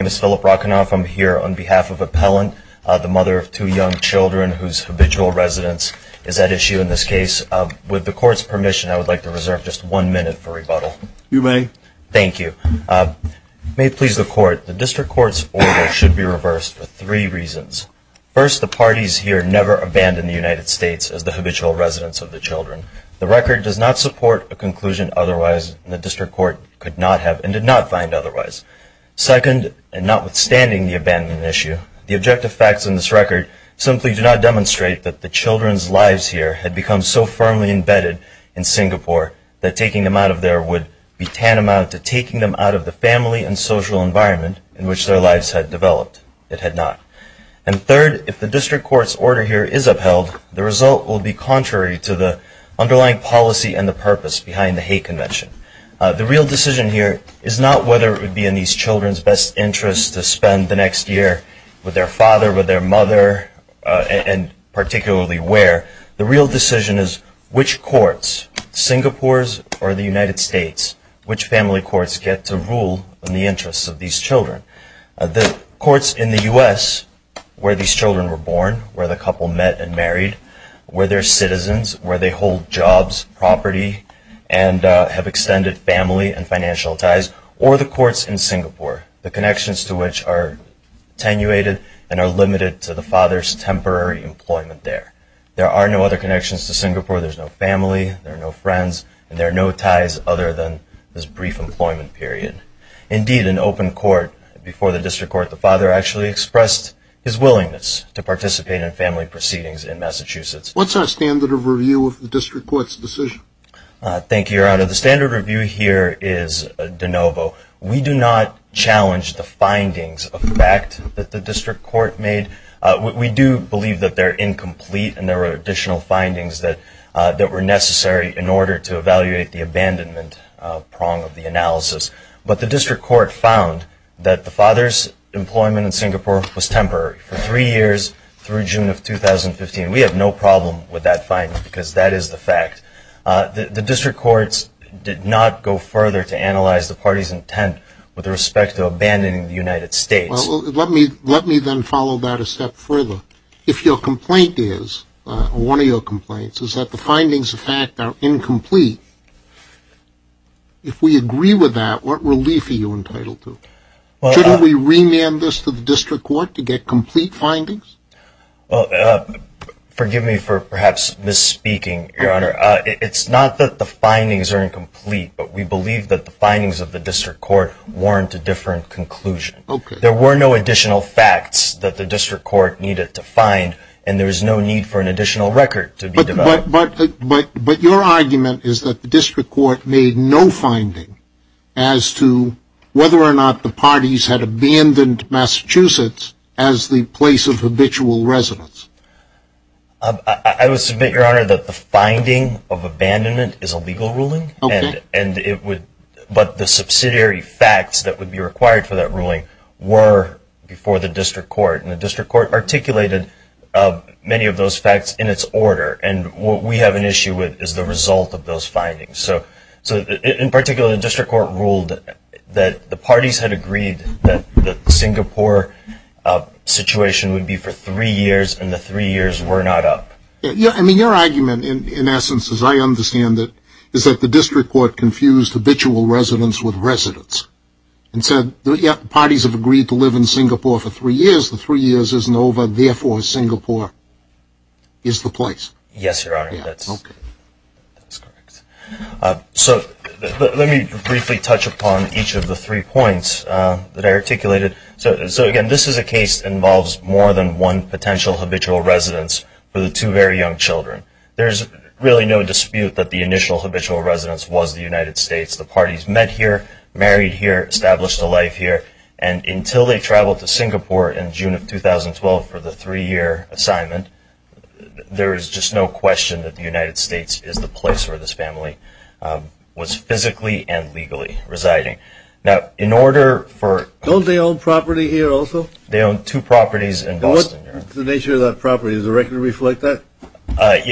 My name is Philip Rockenauf. I'm here on behalf of Appellant, the mother of two young children whose habitual residence is at issue in this case. With the Court's permission, I would like to reserve just one minute for rebuttal. You may. Thank you. May it please the Court, the District Court's order should be reversed for three reasons. First, the parties here never abandoned the United States as the habitual residents of the children. The record does not support a conclusion otherwise, and the District Court could not have and did not find otherwise. Second, and notwithstanding the abandonment issue, the objective facts in this record simply do not demonstrate that the children's lives here had become so firmly embedded in Singapore that taking them out of there would be tantamount to taking them out of the family and social environment in which their lives had developed. It had not. And third, if the District Court's order here is upheld, the result will be contrary to the underlying policy and the purpose behind the hate convention. The real decision here is not whether it would be in these children's best interest to spend the next year with their father, with their mother, and particularly where. The real decision is which courts, Singapore's or the United States, which family courts get to rule in the interests of these children. The courts in the US where these children were born, where the couple met and married, where they're citizens, where they hold jobs, property, and have extended family and financial ties, or the courts in Singapore, the connections to which are attenuated and are limited to the father's temporary employment there. There are no other connections to Singapore. There's no family. There are no friends. And there are no ties other than this brief employment period. Indeed, in open court, before the District Court, the father actually expressed his willingness to participate in family proceedings in Massachusetts. What's our standard of review of the District Court's decision? Thank you, Your Honor. The standard review here is de novo. We do not challenge the findings of the fact that the District Court made. We do believe that they're incomplete and there were additional findings that were necessary in order to evaluate the abandonment prong of the analysis. But the District Court found that the father's employment in Singapore was temporary for three years through June of 2015. We have no problem with that finding because that is the fact. The District Courts did not go further to analyze the party's intent with respect to abandoning the United States. Well, let me then follow that a step further. If your complaint is, or one of your complaints, is that the findings of fact are incomplete, if we agree with that, what relief are you entitled to? Shouldn't we remand this to the District Court to get complete findings? Well, forgive me for perhaps misspeaking, Your Honor. It's not that the findings are incomplete, but we believe that the findings of the District Court warrant a different conclusion. There were no additional facts that the District Court needed to find, and there is no need for an additional record to be developed. But your argument is that the District Court made no finding as to whether or not the parties had abandoned Massachusetts as the place of habitual residence. I would submit, Your Honor, that the finding of abandonment is a legal ruling, but the subsidiary facts that would be required for that ruling were before the District Court, and the District Court articulated many of those facts in its order. And what we have an issue with is the result of those findings. So, in particular, the District Court ruled that the parties had agreed that the Singapore situation would be for three years, and the three years were not up. I mean, your argument, in essence, as I understand it, is that the District Court confused habitual residence with residence, and said, yep, parties have agreed to live in Singapore for three years, the three years isn't over, therefore Singapore is the place. Yes, Your Honor, that's correct. So, let me briefly touch upon each of the three points that I articulated. So, again, this is a case that involves more than one potential habitual residence for the two very young children. There's really no dispute that the initial habitual residence was the United States. The parties met here, married here, established a life here, and until they traveled to Singapore in June of 2012 for the three-year assignment, there is just no question that the United States is the place where this family was physically and legally residing. Now, in order for... Don't they own property here also? They own two properties in Boston. What's the nature of that property? Does the record reflect that?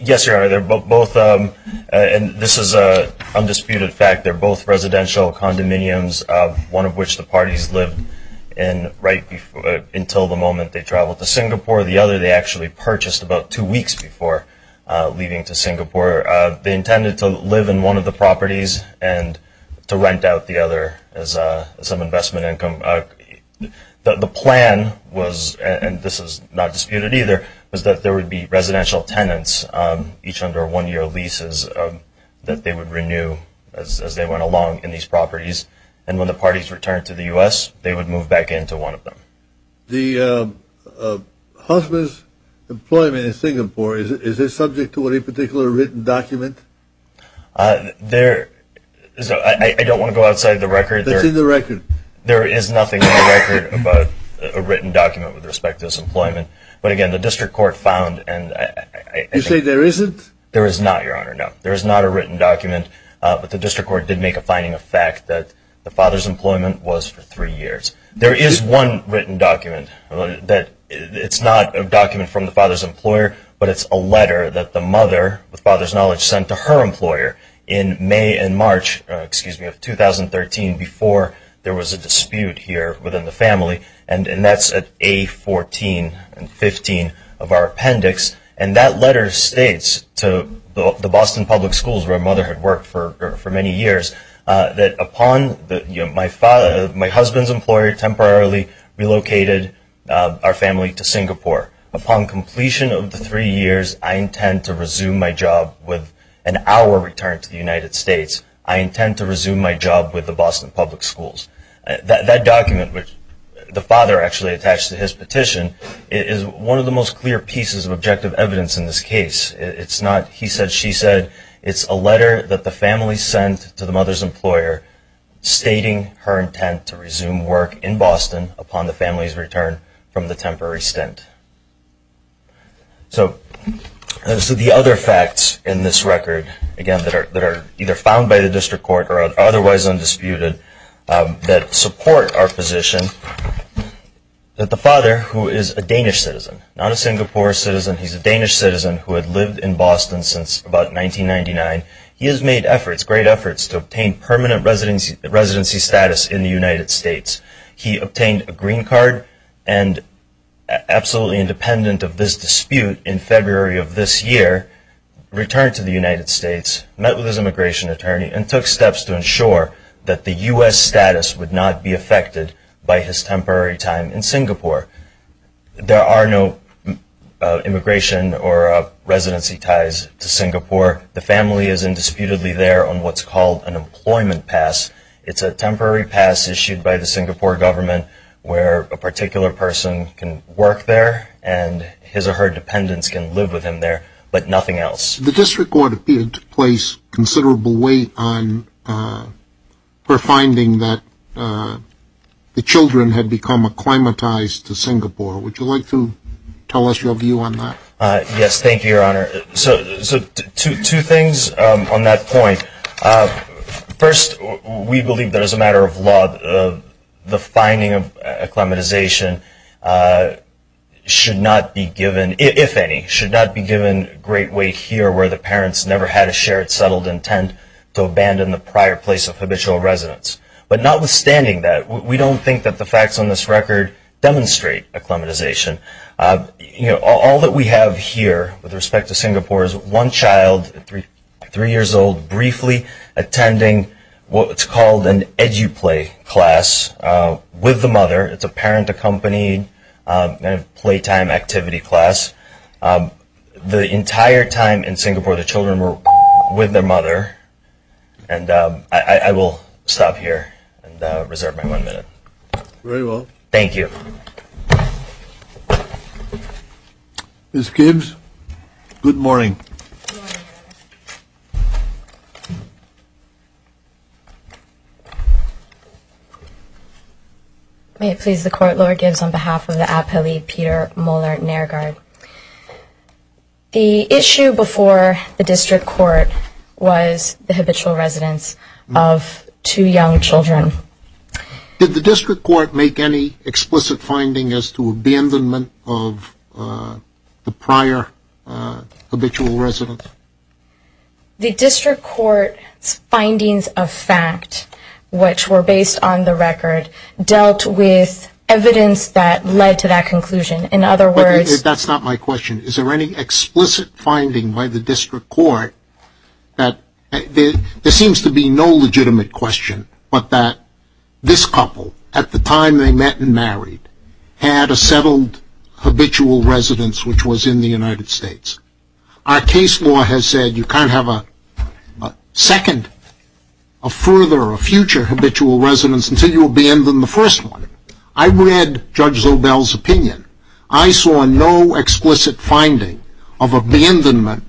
Yes, Your Honor, they're both, and this is an undisputed fact, they're both residential condominiums, one of which the parties lived in until the moment they traveled to Singapore. The other they actually purchased about two weeks before leaving to Singapore. They intended to live in one of the properties and to rent out the other as some investment income. The plan was, and this is not disputed either, was that there would be residential tenants, each under one-year leases that they would renew as they went along in these properties, and when the parties returned to the U.S., they would move back into one of them. The husband's employment in Singapore, is it subject to any particular written document? There... I don't want to go outside the record. It's in the record. There is nothing in the record about a written document with respect to his employment, but again, the district court found... You say there isn't? There is not, Your Honor, no. There is not a written document, but the district court did make a finding of fact that the father's employment was for three years. There is one written document. It's not a document from the father's employer, but it's a letter that the mother, with father's knowledge, sent to her employer in May and March, excuse me, of 2013 before there was a dispute here within the family, and that's at A14 and 15 of our appendix, and that letter states to the Boston Public Schools, where mother had worked for many years, that upon my husband's employer temporarily relocated our family to Singapore. Upon completion of the three years, I intend to resume my job with an hour return to the United States. I intend to resume my job with the Boston Public Schools. That document, which the father actually attached to his petition, is one of the most clear pieces of objective evidence in this case. It's not he said, she said. It's a letter that the family sent to the mother's employer stating her intent to resume work in Boston upon the family's return from the temporary stint. So the other facts in this record, again, that are either found by the district court or are otherwise undisputed that support our position, that the father, who is a Danish citizen, not a Singapore citizen, he's a Danish citizen who had lived in Boston since about 1999, he has made efforts, great efforts, to obtain permanent residency status in the United States. He obtained a green card and, absolutely independent of this dispute in February of this year, returned to the United States, met with his immigration attorney, and took steps to ensure that the U.S. status would not be affected by his temporary time in Singapore. There are no immigration or residency ties to Singapore. The family is indisputably there on what's called an employment pass. It's a temporary pass issued by the Singapore government where a particular person can work there and his or her dependents can live with him there, but nothing else. The district court appeared to place considerable weight on her finding that the children had become acclimatized to Singapore. Would you like to tell us your view on that? Yes, thank you, Your Honor. So two things on that point. First, we believe that as a matter of law, the finding of acclimatization should not be given, if any, should not be given great weight here where the parents never had a shared, settled intent to abandon the prior place of habitual residence. But notwithstanding that, we don't think that the facts on this record demonstrate acclimatization. All that we have here with respect to Singapore is one child, three years old, briefly attending what's called an edu-play class with the mother. It's a parent-accompanied playtime activity class. The entire time in Singapore the children were with their mother. And I will stop here and reserve my one minute. Very well. Thank you. Ms. Gibbs, good morning. Good morning, Your Honor. May it please the Court, Lord Gibbs on behalf of the appellee Peter Moeller-Nairgaard. The issue before the district court was the habitual residence of two young children. Did the district court make any explicit finding as to abandonment of the prior habitual residence? The district court's findings of fact, which were based on the record, dealt with evidence that led to that conclusion. In other words – That's not my question. Is there any explicit finding by the district court that – this couple, at the time they met and married, had a settled habitual residence which was in the United States? Our case law has said you can't have a second, a further, a future habitual residence until you abandon the first one. I read Judge Zobel's opinion. I saw no explicit finding of abandonment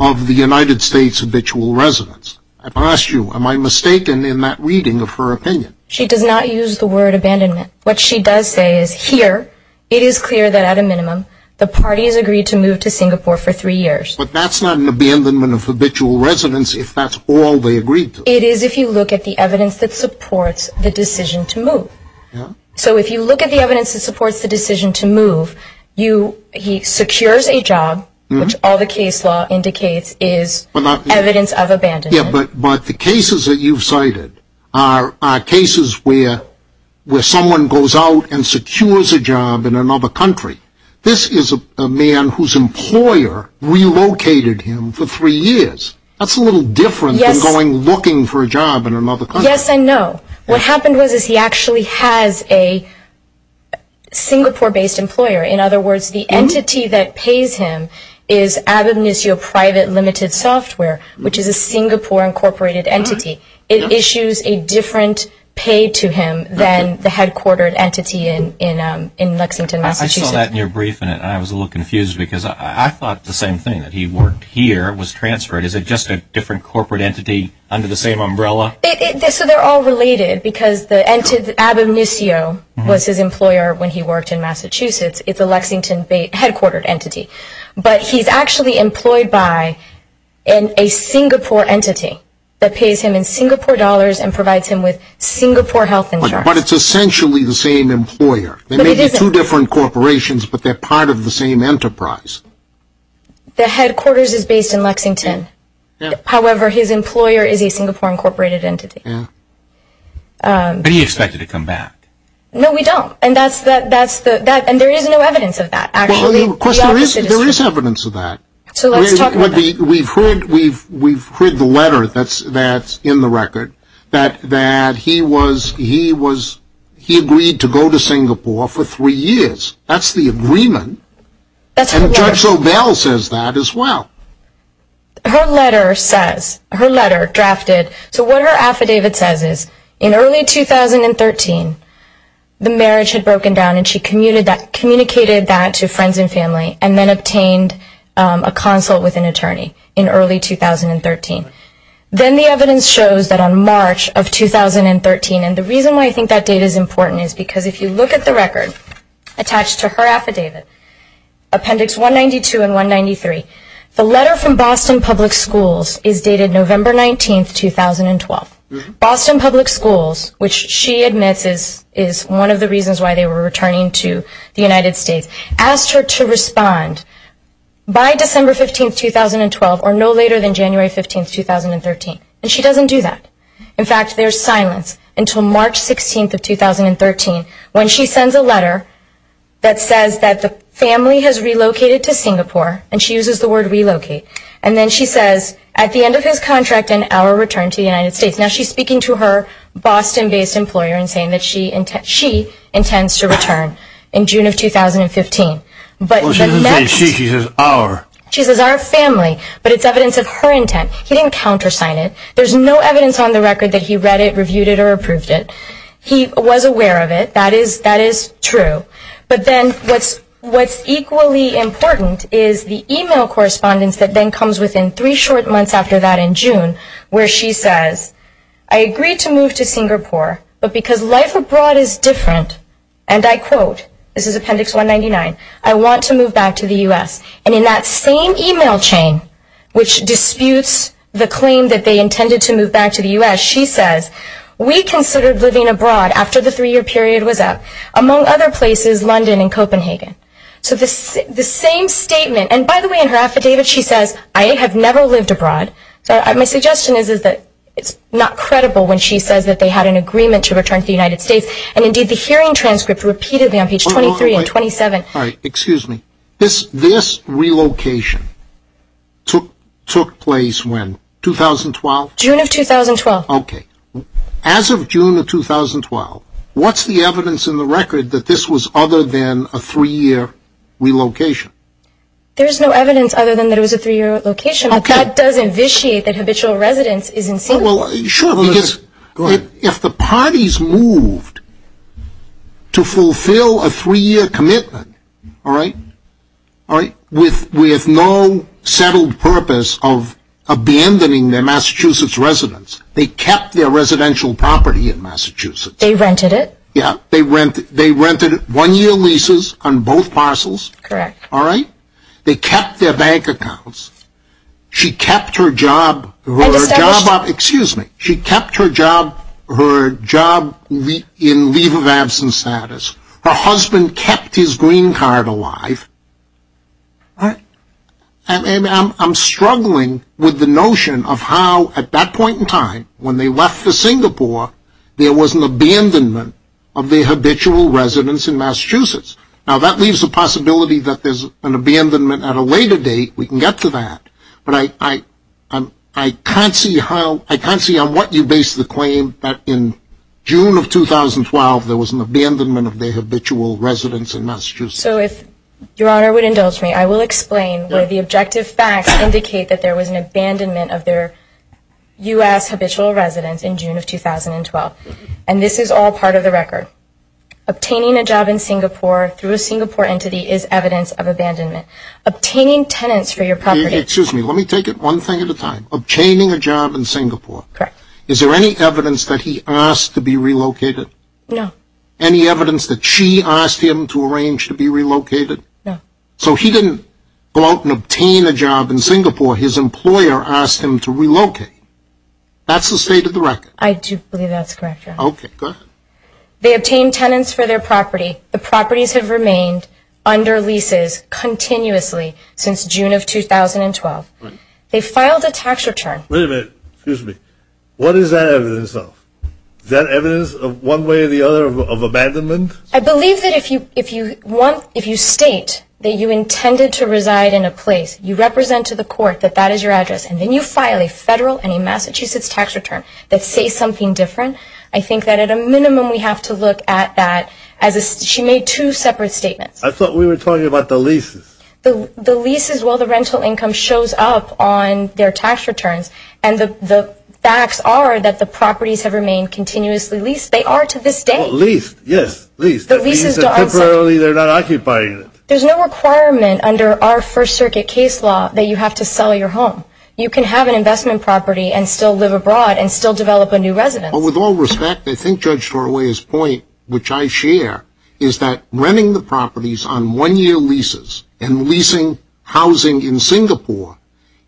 of the United States habitual residence. I've asked you, am I mistaken in that reading of her opinion? She does not use the word abandonment. What she does say is here it is clear that, at a minimum, the parties agreed to move to Singapore for three years. But that's not an abandonment of habitual residence if that's all they agreed to. It is if you look at the evidence that supports the decision to move. He secures a job, which all the case law indicates is evidence of abandonment. But the cases that you've cited are cases where someone goes out and secures a job in another country. This is a man whose employer relocated him for three years. That's a little different than going looking for a job in another country. Yes and no. What happened was he actually has a Singapore-based employer. In other words, the entity that pays him is Abenicio Private Limited Software, which is a Singapore-incorporated entity. It issues a different pay to him than the headquartered entity in Lexington, Massachusetts. I saw that in your briefing, and I was a little confused because I thought the same thing, that he worked here, was transferred. Is it just a different corporate entity under the same umbrella? They're all related because Abenicio was his employer when he worked in Massachusetts. It's a Lexington-headquartered entity. But he's actually employed by a Singapore entity that pays him in Singapore dollars and provides him with Singapore health insurance. But it's essentially the same employer. They may be two different corporations, but they're part of the same enterprise. The headquarters is based in Lexington. However, his employer is a Singapore-incorporated entity. But do you expect it to come back? No, we don't. And there is no evidence of that, actually. There is evidence of that. We've heard the letter that's in the record that he agreed to go to Singapore for three years. That's the agreement. And Judge Sobel says that as well. Her letter says, her letter drafted. So what her affidavit says is, in early 2013, the marriage had broken down, and she communicated that to friends and family and then obtained a consult with an attorney in early 2013. Then the evidence shows that on March of 2013, and the reason why I think that date is important is because if you look at the record attached to her affidavit, Appendix 192 and 193, the letter from Boston Public Schools is dated November 19, 2012. Boston Public Schools, which she admits is one of the reasons why they were returning to the United States, asked her to respond by December 15, 2012, or no later than January 15, 2013. And she doesn't do that. In fact, there's silence until March 16, 2013, when she sends a letter that says that the family has relocated to Singapore, and she uses the word relocate. And then she says, at the end of his contract, an hour return to the United States. Now she's speaking to her Boston-based employer and saying that she intends to return in June of 2015. Well, she doesn't say she, she says our. She says our family, but it's evidence of her intent. He didn't countersign it. There's no evidence on the record that he read it, reviewed it, or approved it. He was aware of it. That is, that is true. But then what's, what's equally important is the email correspondence that then comes within three short months after that in June, where she says, I agree to move to Singapore, but because life abroad is different, and I quote, this is Appendix 199, I want to move back to the U.S. And in that same email chain, which disputes the claim that they intended to move back to the U.S., she says, we considered living abroad after the three-year period was up, among other places, London and Copenhagen. So the same statement, and by the way, in her affidavit, she says, I have never lived abroad. My suggestion is that it's not credible when she says that they had an agreement to return to the United States. And indeed, the hearing transcript repeatedly on page 23 and 27. All right, excuse me. This, this relocation took, took place when, 2012? June of 2012. Okay. As of June of 2012, what's the evidence in the record that this was other than a three-year relocation? There's no evidence other than that it was a three-year relocation. Okay. But that does invitiate that habitual residence is in Singapore. Well, sure, because if the parties moved to fulfill a three-year commitment, all right, all right, with no settled purpose of abandoning their Massachusetts residence, they kept their residential property in Massachusetts. They rented it? Yeah, they rented, they rented one-year leases on both parcels. Correct. All right? They kept their bank accounts. She kept her job. Excuse me. She kept her job, her job in leave of absence status. Her husband kept his green card alive. All right. And I'm struggling with the notion of how, at that point in time, when they left for Singapore, there was an abandonment of their habitual residence in Massachusetts. Now, that leaves the possibility that there's an abandonment at a later date. We can get to that. But I can't see how, I can't see on what you base the claim that in June of 2012, there was an abandonment of their habitual residence in Massachusetts. So if Your Honor would indulge me, I will explain where the objective facts indicate that there was an abandonment of their U.S. habitual residence in June of 2012. And this is all part of the record. Obtaining a job in Singapore through a Singapore entity is evidence of abandonment. Obtaining tenants for your property. Excuse me. Let me take it one thing at a time. Obtaining a job in Singapore. Correct. Is there any evidence that he asked to be relocated? No. Any evidence that she asked him to arrange to be relocated? No. So he didn't go out and obtain a job in Singapore. His employer asked him to relocate. That's the state of the record. I do believe that's correct, Your Honor. Okay. Go ahead. They obtained tenants for their property. The properties have remained under leases continuously since June of 2012. They filed a tax return. Wait a minute. Excuse me. What is that evidence of? Is that evidence of one way or the other of abandonment? I believe that if you state that you intended to reside in a place, you represent to the court that that is your address, and then you file a federal and a Massachusetts tax return that says something different, I think that at a minimum we have to look at that. She made two separate statements. I thought we were talking about the leases. The leases, well, the rental income shows up on their tax returns, and the facts are that the properties have remained continuously leased. They are to this day. Leased, yes, leased. That means that temporarily they're not occupying it. There's no requirement under our First Circuit case law that you have to sell your home. You can have an investment property and still live abroad and still develop a new residence. Well, with all respect, I think Judge Torley's point, which I share, is that renting the properties on one-year leases and leasing housing in Singapore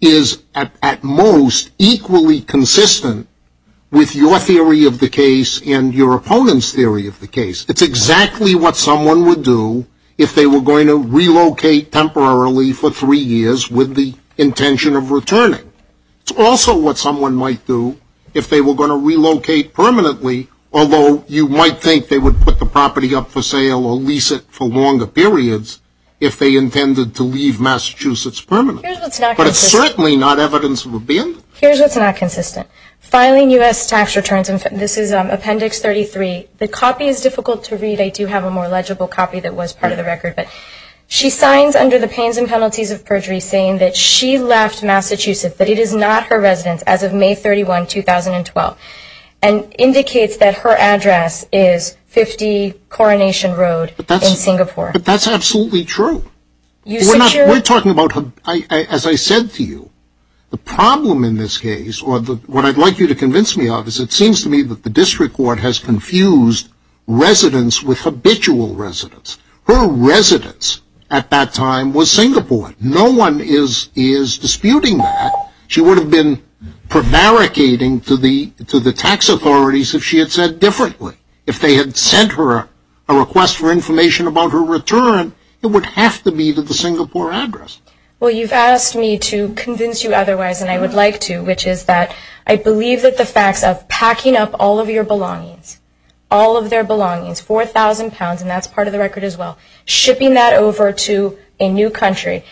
is at most equally consistent with your theory of the case and your opponent's theory of the case. It's exactly what someone would do if they were going to relocate temporarily for three years with the intention of returning. It's also what someone might do if they were going to relocate permanently, although you might think they would put the property up for sale or lease it for longer periods if they intended to leave Massachusetts permanently. Here's what's not consistent. But it's certainly not evidence of abandonment. Here's what's not consistent. Filing U.S. tax returns, and this is Appendix 33. The copy is difficult to read. I do have a more legible copy that was part of the record. But she signs under the pains and penalties of perjury saying that she left Massachusetts, but it is not her residence as of May 31, 2012, and indicates that her address is 50 Coronation Road in Singapore. But that's absolutely true. We're talking about, as I said to you, the problem in this case, or what I'd like you to convince me of is it seems to me that the district court has confused residence with habitual residence. Her residence at that time was Singapore. No one is disputing that. She would have been prevaricating to the tax authorities if she had said differently. If they had sent her a request for information about her return, it would have to be to the Singapore address. Well, you've asked me to convince you otherwise, and I would like to, which is that I believe that the facts of packing up all of your belongings, all of their belongings, 4,000 pounds, and that's part of the record as well, shipping that over to a new country,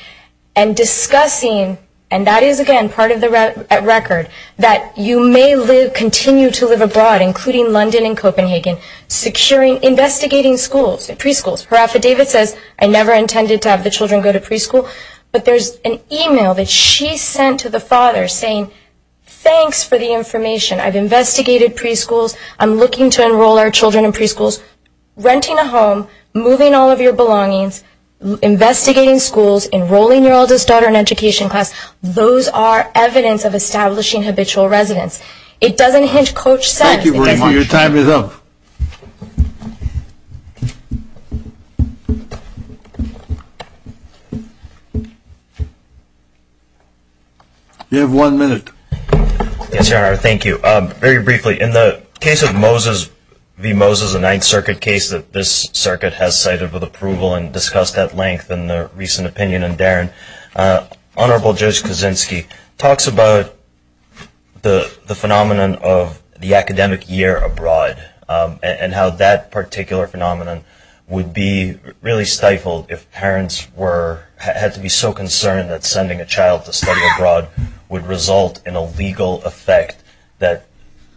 and discussing, and that is again part of the record, that you may continue to live abroad, including London and Copenhagen, securing, investigating schools and preschools. Her affidavit says, I never intended to have the children go to preschool. But there's an email that she sent to the father saying, thanks for the information. I've investigated preschools. I'm looking to enroll our children in preschools. Renting a home, moving all of your belongings, investigating schools, enrolling your oldest daughter in education class, those are evidence of establishing habitual residence. It doesn't hint, Coach says, it doesn't. Thank you very much. Your time is up. You have one minute. Yes, Your Honor, thank you. Very briefly, in the case of Moses v. Moses, a Ninth Circuit case that this circuit has cited with approval and discussed at length in the recent opinion in Darin, Honorable Judge Kaczynski talks about the phenomenon of the academic year abroad and how that particular phenomenon would be really stifled if parents were, had to be so concerned that sending a child to study abroad would result in a legal effect that,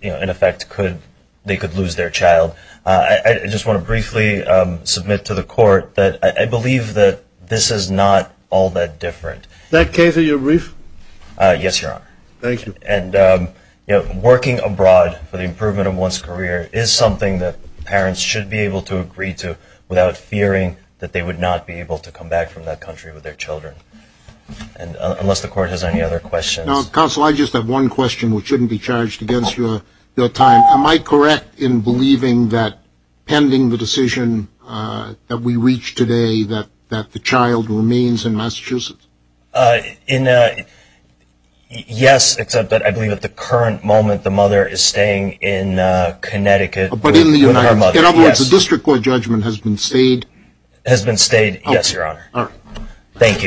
in effect, they could lose their child. I just want to briefly submit to the Court that I believe that this is not all that different. Is that case of your brief? Yes, Your Honor. Thank you. And working abroad for the improvement of one's career is something that parents should be able to agree to without fearing that they would not be able to come back from that country with their children, unless the Court has any other questions. Counsel, I just have one question, which shouldn't be charged against your time. Am I correct in believing that, pending the decision that we reached today, that the child remains in Massachusetts? Yes, except that I believe at the current moment the mother is staying in Connecticut with her mother. In other words, the District Court judgment has been stayed? Has been stayed, yes, Your Honor. Thank you.